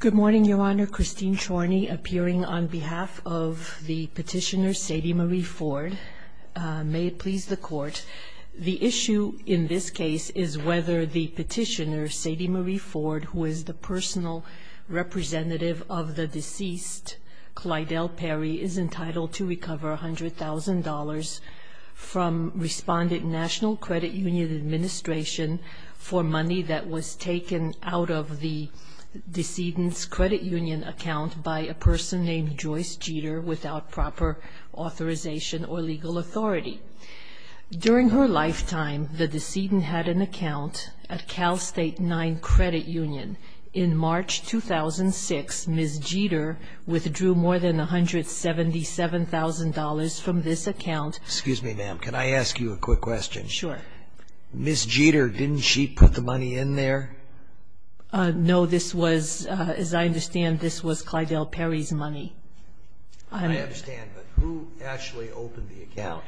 Good morning, Your Honor. Christine Chorney appearing on behalf of the petitioner Sadie Marie Ford. May it please the Court, the issue in this case is whether the petitioner, Sadie Marie Ford, who is the personal representative of the deceased, Clydell Perry, is entitled to recover $100,000 from Respondent National Credit Union Administration for money that was taken out of the decedent's credit union account by a person named Joyce Jeter without proper authorization or legal authority. During her lifetime, the decedent had an account at Cal State Nine Credit Union. In March 2006, Ms. Jeter withdrew more than $177,000 from this account. Excuse me, ma'am. Can I ask you a quick question? Sure. Ms. Jeter, didn't she put the money in there? No, this was, as I understand, this was Clydell Perry's money. I understand, but who actually opened the account?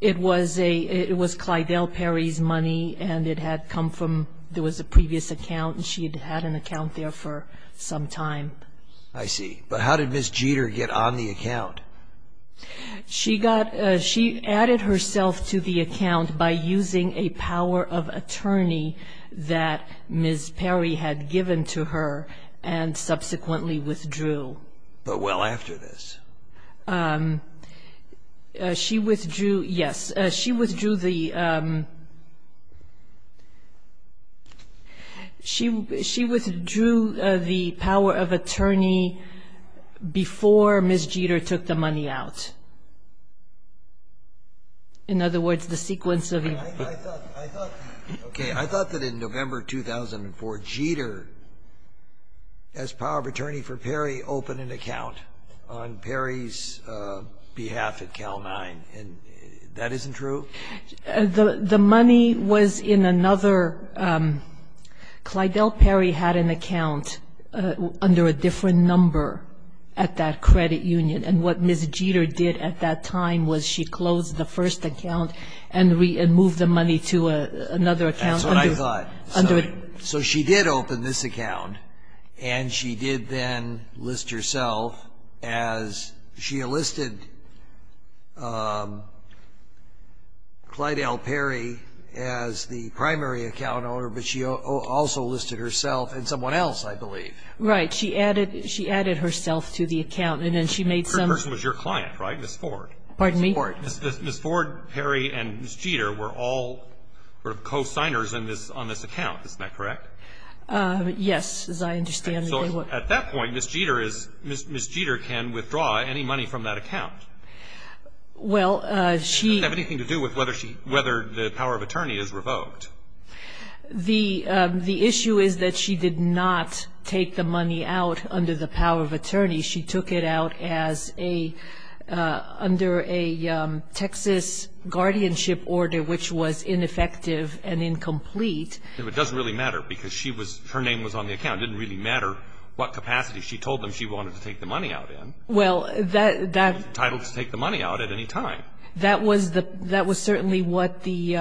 It was Clydell Perry's money, and it had come from, there was a previous account, and she had had an account there for some time. I see. But how did Ms. Jeter get on the account? She got, she added herself to the account by using a power of attorney that Ms. Perry had given to her and subsequently withdrew. But well after this? She withdrew, yes, she withdrew the, she withdrew the power of attorney before Ms. Jeter took the money out. In other words, the sequence of events. I thought, okay, I thought that in November 2004, Jeter as power of attorney for Perry opened an account on Perry's behalf at Cal Nine, and that isn't true? The money was in another, Clydell Perry had an account under a different number at that credit union, and what Ms. Jeter did at that time was she closed the first account and moved the money to another account. That's what I thought. So she did open this account, and she did then list herself as, she enlisted Clydell Perry as the primary account owner, but she also listed herself and someone else, I believe. Right. She added herself to the account, and then she made some. The person was your client, right? Ms. Ford. Pardon me? Ms. Ford, Perry, and Ms. Jeter were all sort of co-signers on this account. Isn't that correct? Yes, as I understand. So at that point, Ms. Jeter can withdraw any money from that account. Well, she. It doesn't have anything to do with whether the power of attorney is revoked. The issue is that she did not take the money out under the power of attorney. She took it out under a Texas guardianship order, which was ineffective and incomplete. It doesn't really matter because her name was on the account. It didn't really matter what capacity she told them she wanted to take the money out in. Well, that. She was entitled to take the money out at any time. That was certainly what the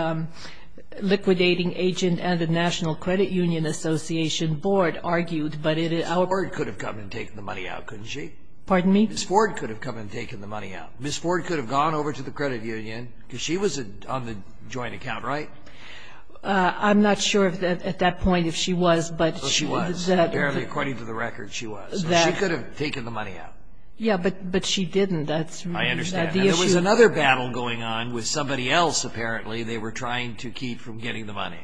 liquidating agent and the National Credit Union Association Board argued, but it. Ms. Ford could have come and taken the money out, couldn't she? Pardon me? Ms. Ford could have come and taken the money out. Ms. Ford could have gone over to the credit union because she was on the joint account, right? I'm not sure at that point if she was. She was. Apparently, according to the record, she was. She could have taken the money out. Yes, but she didn't. I understand. There was another battle going on with somebody else, apparently. They were trying to keep from getting the money.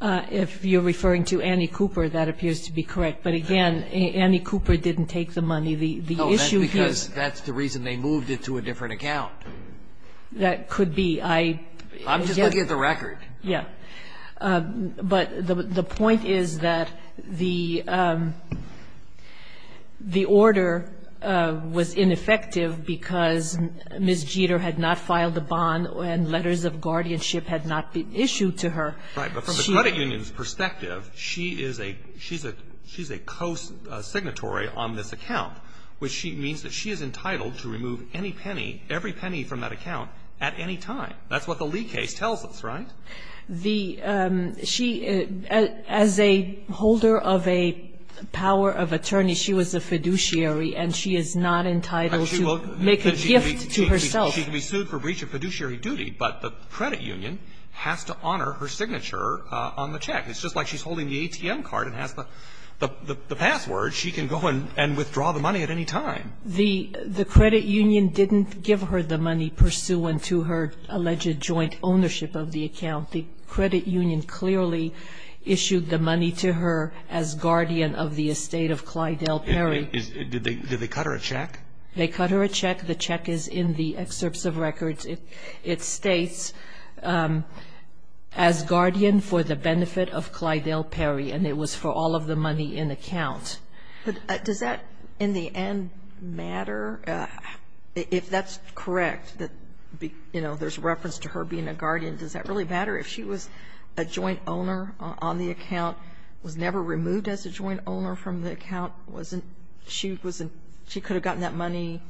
If you're referring to Annie Cooper, that appears to be correct. But, again, Annie Cooper didn't take the money. No, that's because that's the reason they moved it to a different account. That could be. I'm just looking at the record. Yes. But the point is that the order was ineffective because Ms. Jeter had not filed a bond and letters of guardianship had not been issued to her. Right, but from the credit union's perspective, she's a co-signatory on this account, which means that she is entitled to remove any penny, every penny from that account at any time. That's what the Lee case tells us, right? She, as a holder of a power of attorney, she was a fiduciary, and she is not entitled to make a gift to herself. She can be sued for breach of fiduciary duty, but the credit union has to honor her signature on the check. It's just like she's holding the ATM card and has the password. She can go and withdraw the money at any time. The credit union didn't give her the money pursuant to her alleged joint ownership of the account. The credit union clearly issued the money to her as guardian of the estate of Clyde L. Perry. Did they cut her a check? They cut her a check. The check is in the excerpts of records. It states, as guardian for the benefit of Clyde L. Perry, and it was for all of the money in account. Does that, in the end, matter? If that's correct, that, you know, there's reference to her being a guardian, does that really matter? If she was a joint owner on the account, was never removed as a joint owner from the account, she could have gotten that money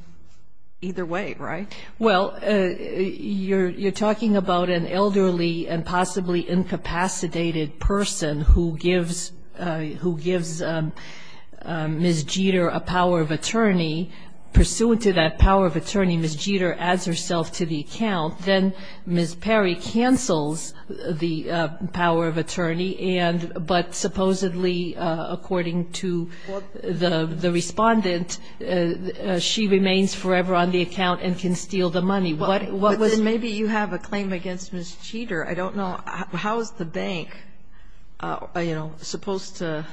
either way, right? Well, you're talking about an elderly and possibly incapacitated person who gives Ms. Jeter a power of attorney. Pursuant to that power of attorney, Ms. Jeter adds herself to the account. Then Ms. Perry cancels the power of attorney, but supposedly, according to the respondent, she remains forever on the account and can steal the money. What was the ---- But then maybe you have a claim against Ms. Jeter. I don't know. How is the bank, you know, supposed to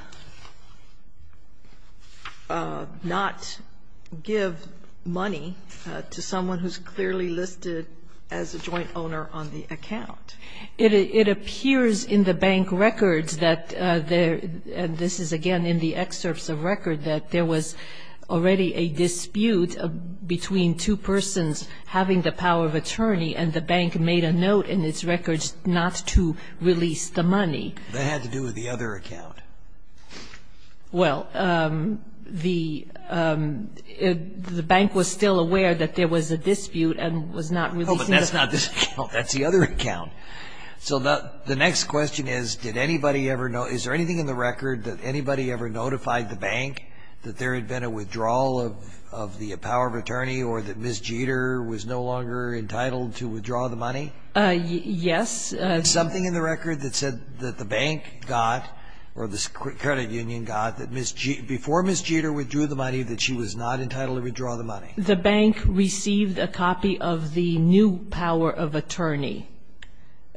not give money to someone who's clearly listed as a joint owner on the account? It appears in the bank records that there, and this is again in the excerpts of record, that there was already a dispute between two persons having the power of attorney, and the bank made a note in its records not to release the money. That had to do with the other account. Well, the bank was still aware that there was a dispute and was not releasing the money. No, but that's not this account. That's the other account. So the next question is, did anybody ever know, is there anything in the record that anybody ever notified the bank that there had been a withdrawal of the power of attorney or that Ms. Jeter was no longer entitled to withdraw the money? Yes. Is there something in the record that said that the bank got, or the credit union got, that before Ms. Jeter withdrew the money, that she was not entitled to withdraw the money? The bank received a copy of the new power of attorney.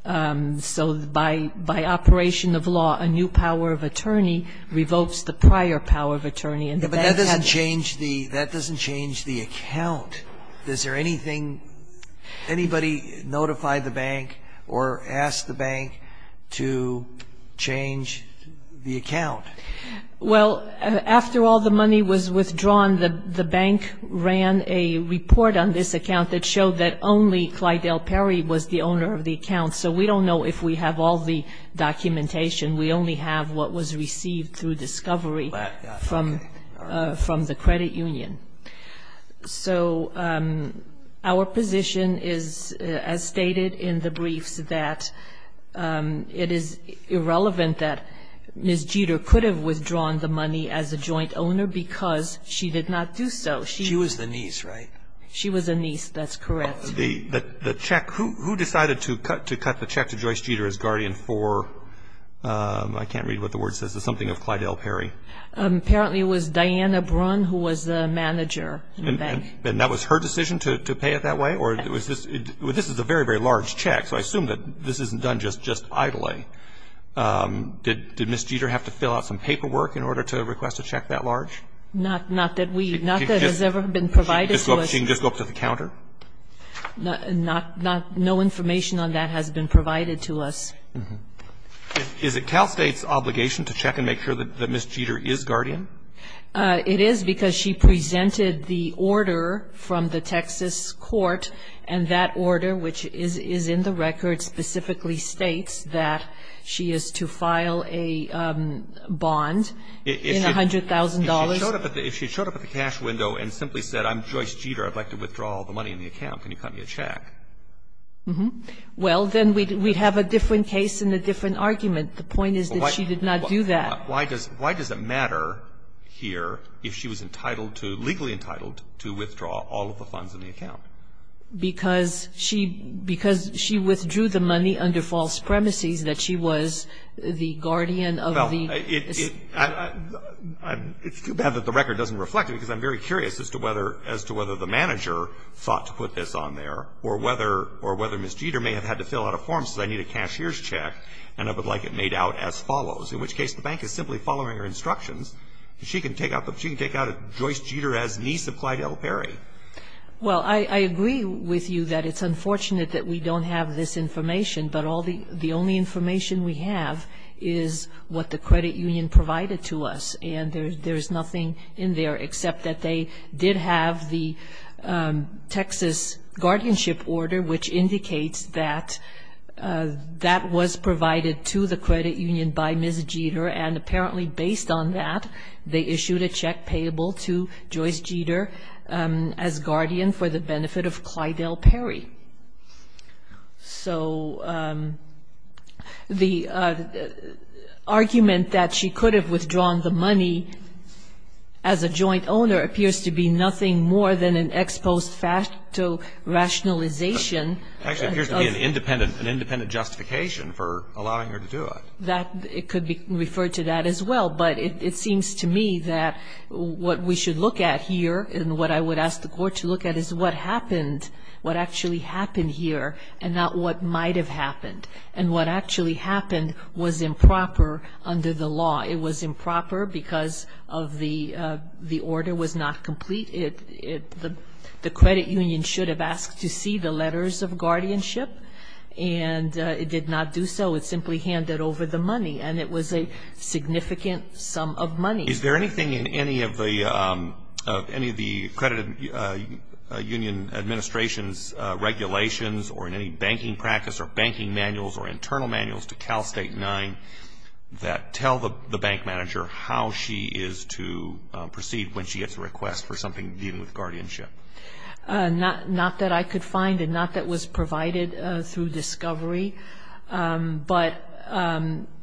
So by operation of law, a new power of attorney revokes the prior power of attorney. But that doesn't change the account. Is there anything, anybody notify the bank or ask the bank to change the account? Well, after all the money was withdrawn, the bank ran a report on this account that showed that only Clyde L. Perry was the owner of the account. So we don't know if we have all the documentation. We only have what was received through discovery from the credit union. So our position is, as stated in the briefs, that it is irrelevant that Ms. Jeter could have withdrawn the money as a joint owner because she did not do so. She was the niece, right? She was the niece. That's correct. The check, who decided to cut the check to Joyce Jeter as guardian for, I can't read what the word says, something of Clyde L. Perry? Apparently it was Diana Brunn who was the manager in the bank. And that was her decision to pay it that way? This is a very, very large check, so I assume that this isn't done just idly. Did Ms. Jeter have to fill out some paperwork in order to request a check that large? Not that we, not that it has ever been provided to us. She can just go up to the counter? No information on that has been provided to us. Is it Cal State's obligation to check and make sure that Ms. Jeter is guardian? It is because she presented the order from the Texas court, and that order, which is in the record specifically states that she is to file a bond in $100,000. If she showed up at the cash window and simply said, I'm Joyce Jeter, I'd like to withdraw all the money in the account, can you cut me a check? Well, then we'd have a different case and a different argument. The point is that she did not do that. Why does it matter here if she was entitled to, legally entitled, to withdraw all of the funds in the account? Because she withdrew the money under false premises, that she was the guardian of the. Well, it's too bad that the record doesn't reflect it, because I'm very curious as to whether the manager thought to put this on there, or whether Ms. Jeter may have had to fill out a form, says I need a cashier's check and I would like it made out as follows, in which case the bank is simply following her instructions. She can take out Joyce Jeter as niece of Clyde L. Perry. Well, I agree with you that it's unfortunate that we don't have this information, but the only information we have is what the credit union provided to us, and there's nothing in there except that they did have the Texas guardianship order, which indicates that that was provided to the credit union by Ms. Jeter, and apparently based on that, they issued a check payable to Joyce Jeter as guardian for the benefit of Clyde L. Perry. So the argument that she could have withdrawn the money as a joint owner appears to be nothing more than an ex post facto rationalization. It actually appears to be an independent justification for allowing her to do it. It could be referred to that as well, but it seems to me that what we should look at here and what I would ask the court to look at is what happened, what actually happened here, and not what might have happened. And what actually happened was improper under the law. It was improper because of the order was not complete. The credit union should have asked to see the letters of guardianship, and it did not do so. It simply handed over the money, and it was a significant sum of money. Is there anything in any of the credit union administration's regulations or in any banking practice or banking manuals or internal manuals to Cal State 9 that tell the bank manager how she is to proceed when she gets a request for something dealing with guardianship? Not that I could find and not that was provided through discovery, but,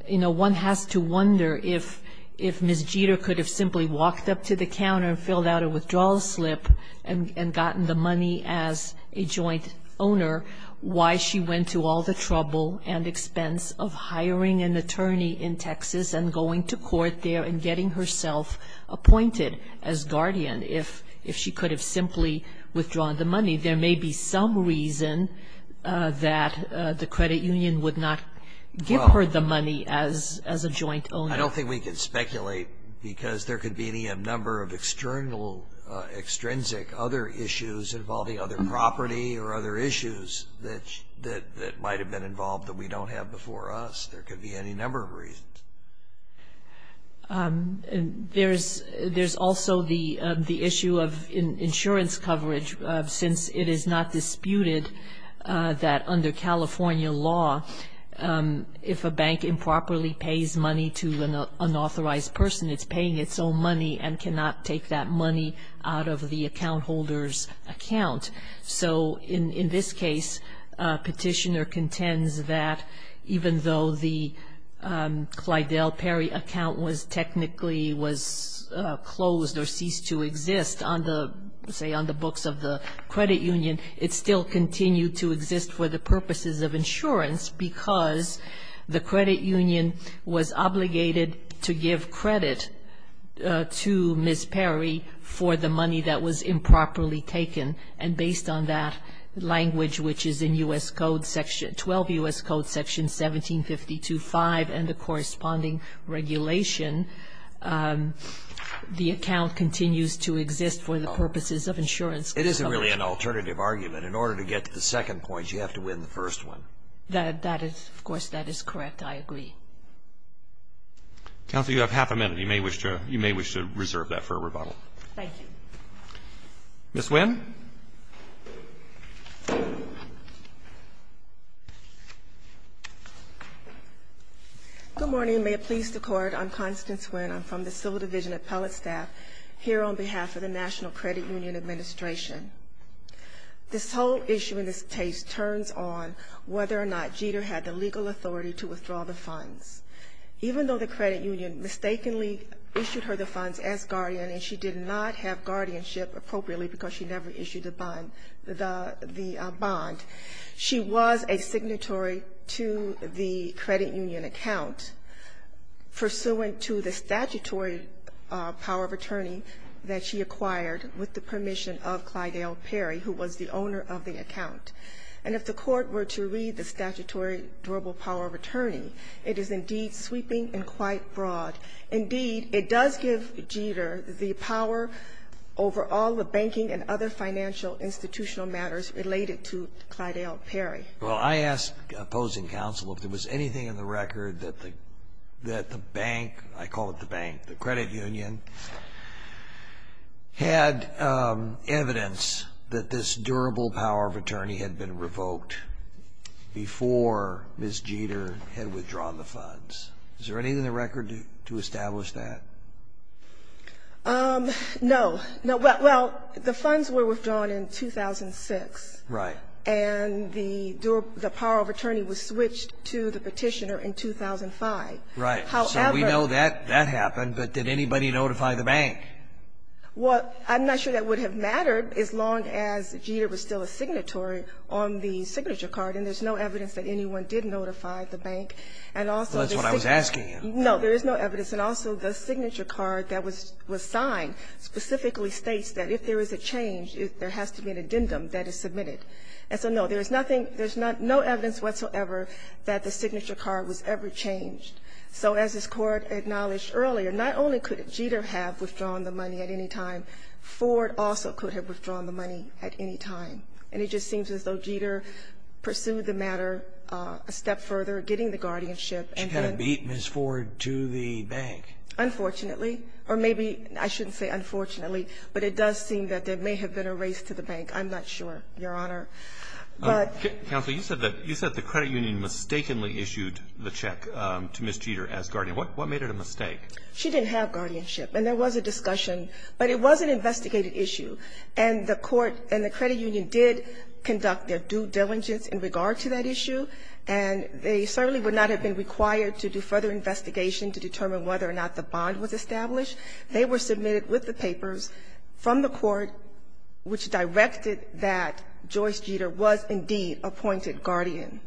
you know, one has to wonder if Ms. Jeter could have simply walked up to the counter and filled out a withdrawal slip and gotten the money as a joint owner, why she went to all the trouble and expense of hiring an attorney in Texas and going to court there and getting herself appointed as guardian, if she could have simply withdrawn the money. There may be some reason that the credit union would not give her the money as a joint owner. I don't think we can speculate because there could be any number of external, extrinsic other issues involving other property or other issues that might have been involved that we don't have before us. There could be any number of reasons. There's also the issue of insurance coverage, since it is not disputed that under California law, if a bank improperly pays money to an unauthorized person, it's paying its own money and cannot take that money out of the account holder's account. So in this case, the petitioner contends that even though the Clyde L. Perry account was technically was closed or ceased to exist on the, say on the books of the credit union, it still continued to exist for the purposes of insurance because the credit union was obligated to give credit to Ms. Perry for the money that was improperly taken. And based on that language, which is in U.S. Code section, 12 U.S. Code section 1752.5 and the corresponding regulation, the account continues to exist for the purposes of insurance. It isn't really an alternative argument. In order to get to the second point, you have to win the first one. That is, of course, that is correct. I agree. Counsel, you have half a minute. You may wish to reserve that for a rebuttal. Thank you. Ms. Winn. Good morning. May it please the court. I'm Constance Winn. I'm from the civil division appellate staff here on behalf of the national credit union administration. This whole issue in this case turns on whether or not Jeter had the legal authority to withdraw the funds, even though the credit union mistakenly issued her the funds as guardian. And she did not have guardianship appropriately because she never issued the bond. She was a signatory to the credit union account, pursuant to the statutory power of attorney that she acquired with the permission of Clyde L. Perry, who was the owner of the account. And if the court were to read the statutory durable power of attorney, it is indeed sweeping and quite broad. Indeed, it does give Jeter the power over all the banking and other financial institutional matters related to Clyde L. Perry. Well, I ask opposing counsel if there was anything in the record that the bank, I call it the bank, the credit union, had evidence that this durable power of attorney had been revoked before Ms. Jeter had withdrawn the funds. Is there anything in the record to establish that? No. Well, the funds were withdrawn in 2006. Right. And the durable power of attorney was switched to the Petitioner in 2005. Right. So we know that happened, but did anybody notify the bank? Well, I'm not sure that would have mattered as long as Jeter was still a signatory on the signature card, and there's no evidence that anyone did notify the bank. Well, that's what I was asking you. No, there is no evidence. And also, the signature card that was signed specifically states that if there is a change, there has to be an addendum that is submitted. And so, no, there's nothing, there's no evidence whatsoever that the signature card was ever changed. So as this Court acknowledged earlier, not only could Jeter have withdrawn the money at any time, Ford also could have withdrawn the money at any time. And it just seems as though Jeter pursued the matter a step further, getting the guardianship. She kind of beat Ms. Ford to the bank. Unfortunately. Or maybe I shouldn't say unfortunately, but it does seem that there may have been a race to the bank. I'm not sure, Your Honor. Counsel, you said that the credit union mistakenly issued the check to Ms. Jeter as guardian. What made it a mistake? She didn't have guardianship. And there was a discussion, but it was an investigated issue. And the court and the credit union did conduct their due diligence in regard to that issue. And they certainly would not have been required to do further investigation to determine whether or not the bond was established. They were submitted with the papers from the court, which directed that Joyce Jeter was indeed appointed guardian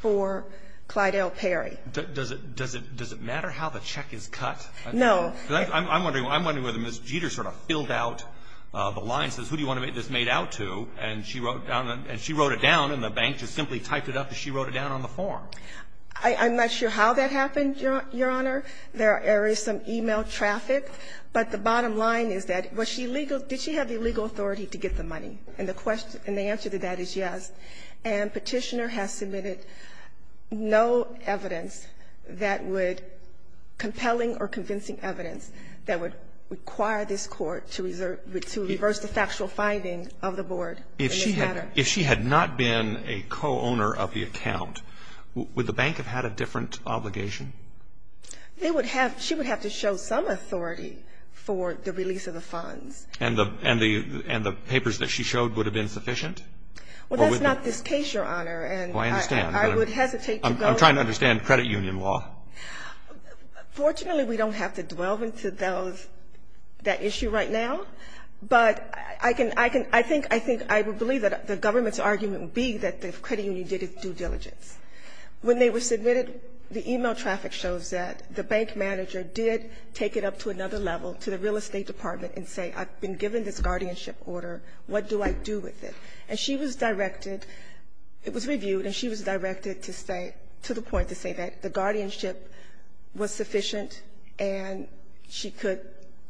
for Clydell Perry. Does it matter how the check is cut? No. I'm wondering, I'm wondering whether Ms. Jeter sort of filled out the line and says, who do you want to make this made out to? And she wrote it down in the bank. She simply typed it up and she wrote it down on the form. I'm not sure how that happened, Your Honor. There are areas of e-mail traffic. But the bottom line is that was she legal? Did she have the legal authority to get the money? And the answer to that is yes. And Petitioner has submitted no evidence that would compelling or convincing evidence that would require this Court to reverse the factual finding of the board in this matter. If she had not been a co-owner of the account, would the bank have had a different obligation? They would have, she would have to show some authority for the release of the funds. And the papers that she showed would have been sufficient? Well, that's not this case, Your Honor. Oh, I understand. I would hesitate to go. I'm trying to understand credit union law. Fortunately, we don't have to dwell into those, that issue right now. But I can, I can, I think, I think I would believe that the government's argument would be that the credit union did its due diligence. When they were submitted, the e-mail traffic shows that the bank manager did take it up to another level, to the real estate department, and say, I've been given this guardianship order. What do I do with it? And she was directed, it was reviewed, and she was directed to say, to the point to say that the guardianship was sufficient and she could,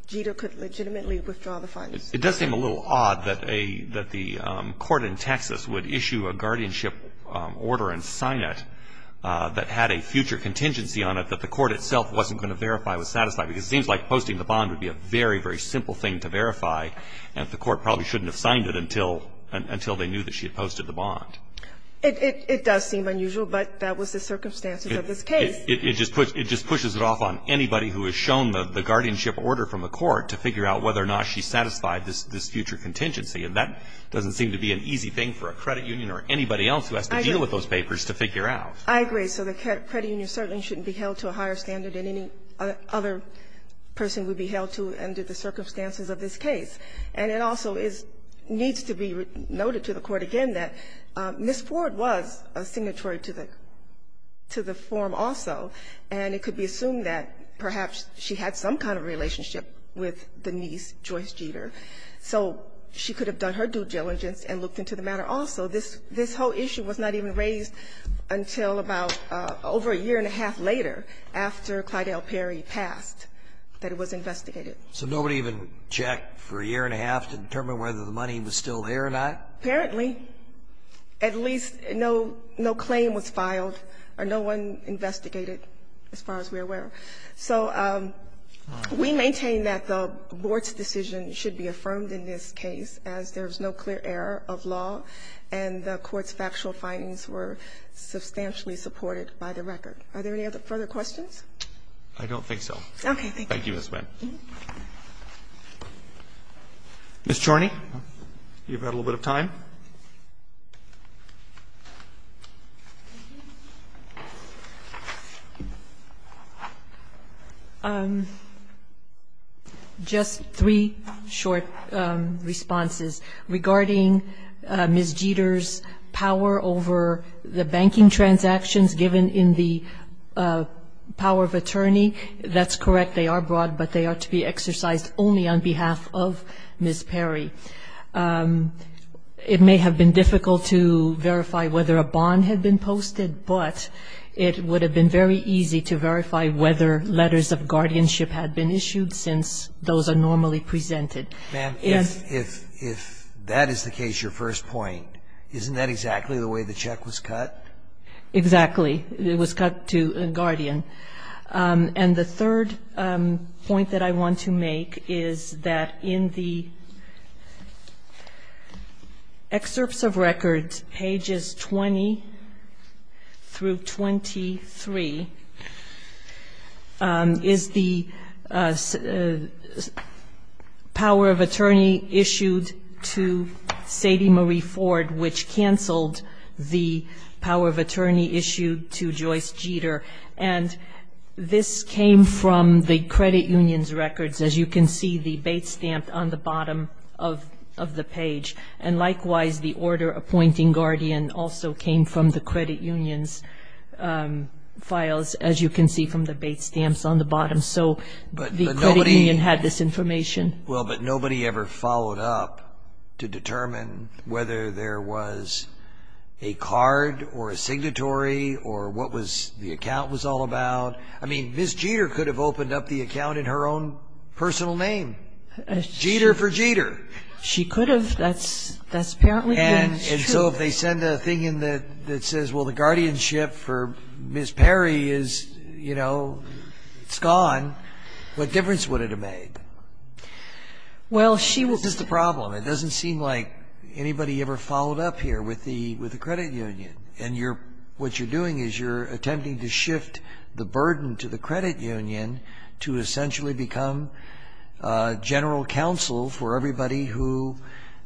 Jeter could legitimately withdraw the funds. It does seem a little odd that a, that the court in Texas would issue a guardianship order and sign it that had a future contingency on it that the court itself wasn't going to verify was satisfied. Because it seems like posting the bond would be a very, very simple thing to verify, and the court probably shouldn't have signed it until, until they knew that she had posted the bond. It, it does seem unusual, but that was the circumstances of this case. It just pushes, it just pushes it off on anybody who has shown the guardianship order from the court to figure out whether or not she satisfied this, this future contingency, and that doesn't seem to be an easy thing for a credit union or anybody else who has to deal with those papers to figure out. I agree. So the credit union certainly shouldn't be held to a higher standard than any other person would be held to under the circumstances of this case. And it also is, needs to be noted to the court again that Ms. Ford was a signatory to the, to the form also, and it could be assumed that perhaps she had some kind of relationship with the niece, Joyce Jeter. So she could have done her due diligence and looked into the matter also. This, this whole issue was not even raised until about over a year and a half later, after Clydell Perry passed, that it was investigated. So nobody even checked for a year and a half to determine whether the money was still there or not? Apparently, at least no, no claim was filed, or no one investigated, as far as we're aware. So we maintain that the Board's decision should be affirmed in this case, as there is no clear error of law, and the Court's factual findings were substantially supported by the record. Are there any other further questions? I don't think so. Okay. Thank you, Ms. Wendt. Ms. Charney, you've had a little bit of time. Just three short responses regarding Ms. Jeter's power over the banking transactions given in the power of attorney. That's correct. They are broad, but they are to be exercised only on behalf of Ms. Perry. It may have been difficult to verify whether a bond had been posted, but it would have been very easy to verify whether letters of guardianship had been issued since those are normally presented. Ma'am, if that is the case, your first point, isn't that exactly the way the check was cut? Exactly. It was cut to a guardian. And the third point that I want to make is that in the excerpts of record, pages 20 through 23, is the power of attorney issued to Sadie Marie Ford, which canceled the power of attorney issued to Joyce Jeter. And this came from the credit union's records. As you can see, the bait stamp on the bottom of the page. And likewise, the order appointing guardian also came from the credit union's files, as you can see from the bait stamps on the bottom. So the credit union had this information. Well, but nobody ever followed up to determine whether there was a card or a signatory or what the account was all about. I mean, Ms. Jeter could have opened up the account in her own personal name. Jeter for Jeter. She could have. That's apparently true. And so if they send a thing in that says, well, the guardianship for Ms. Perry is, you know, it's gone, what difference would it have made? Well, she would. This is the problem. It doesn't seem like anybody ever followed up here with the credit union. And what you're doing is you're attempting to shift the burden to the credit union to essentially become general counsel for everybody who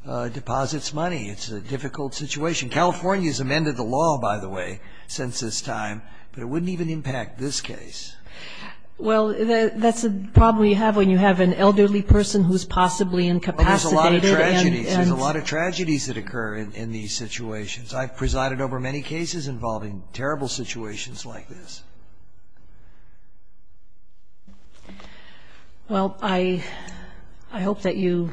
deposits money. It's a difficult situation. California has amended the law, by the way, since this time. But it wouldn't even impact this case. Well, that's a problem you have when you have an elderly person who's possibly incapacitated. Well, there's a lot of tragedies. There's a lot of tragedies that occur in these situations. I've presided over many cases involving terrible situations like this. Well, I hope that you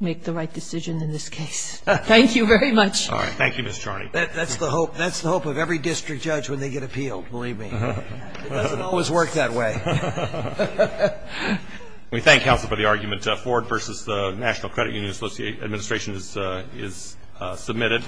make the right decision in this case. Thank you very much. All right. Thank you, Ms. Charney. That's the hope of every district judge when they get appealed, believe me. It doesn't always work that way. We thank counsel for the argument. The Ford v. National Credit Union Administration is submitted.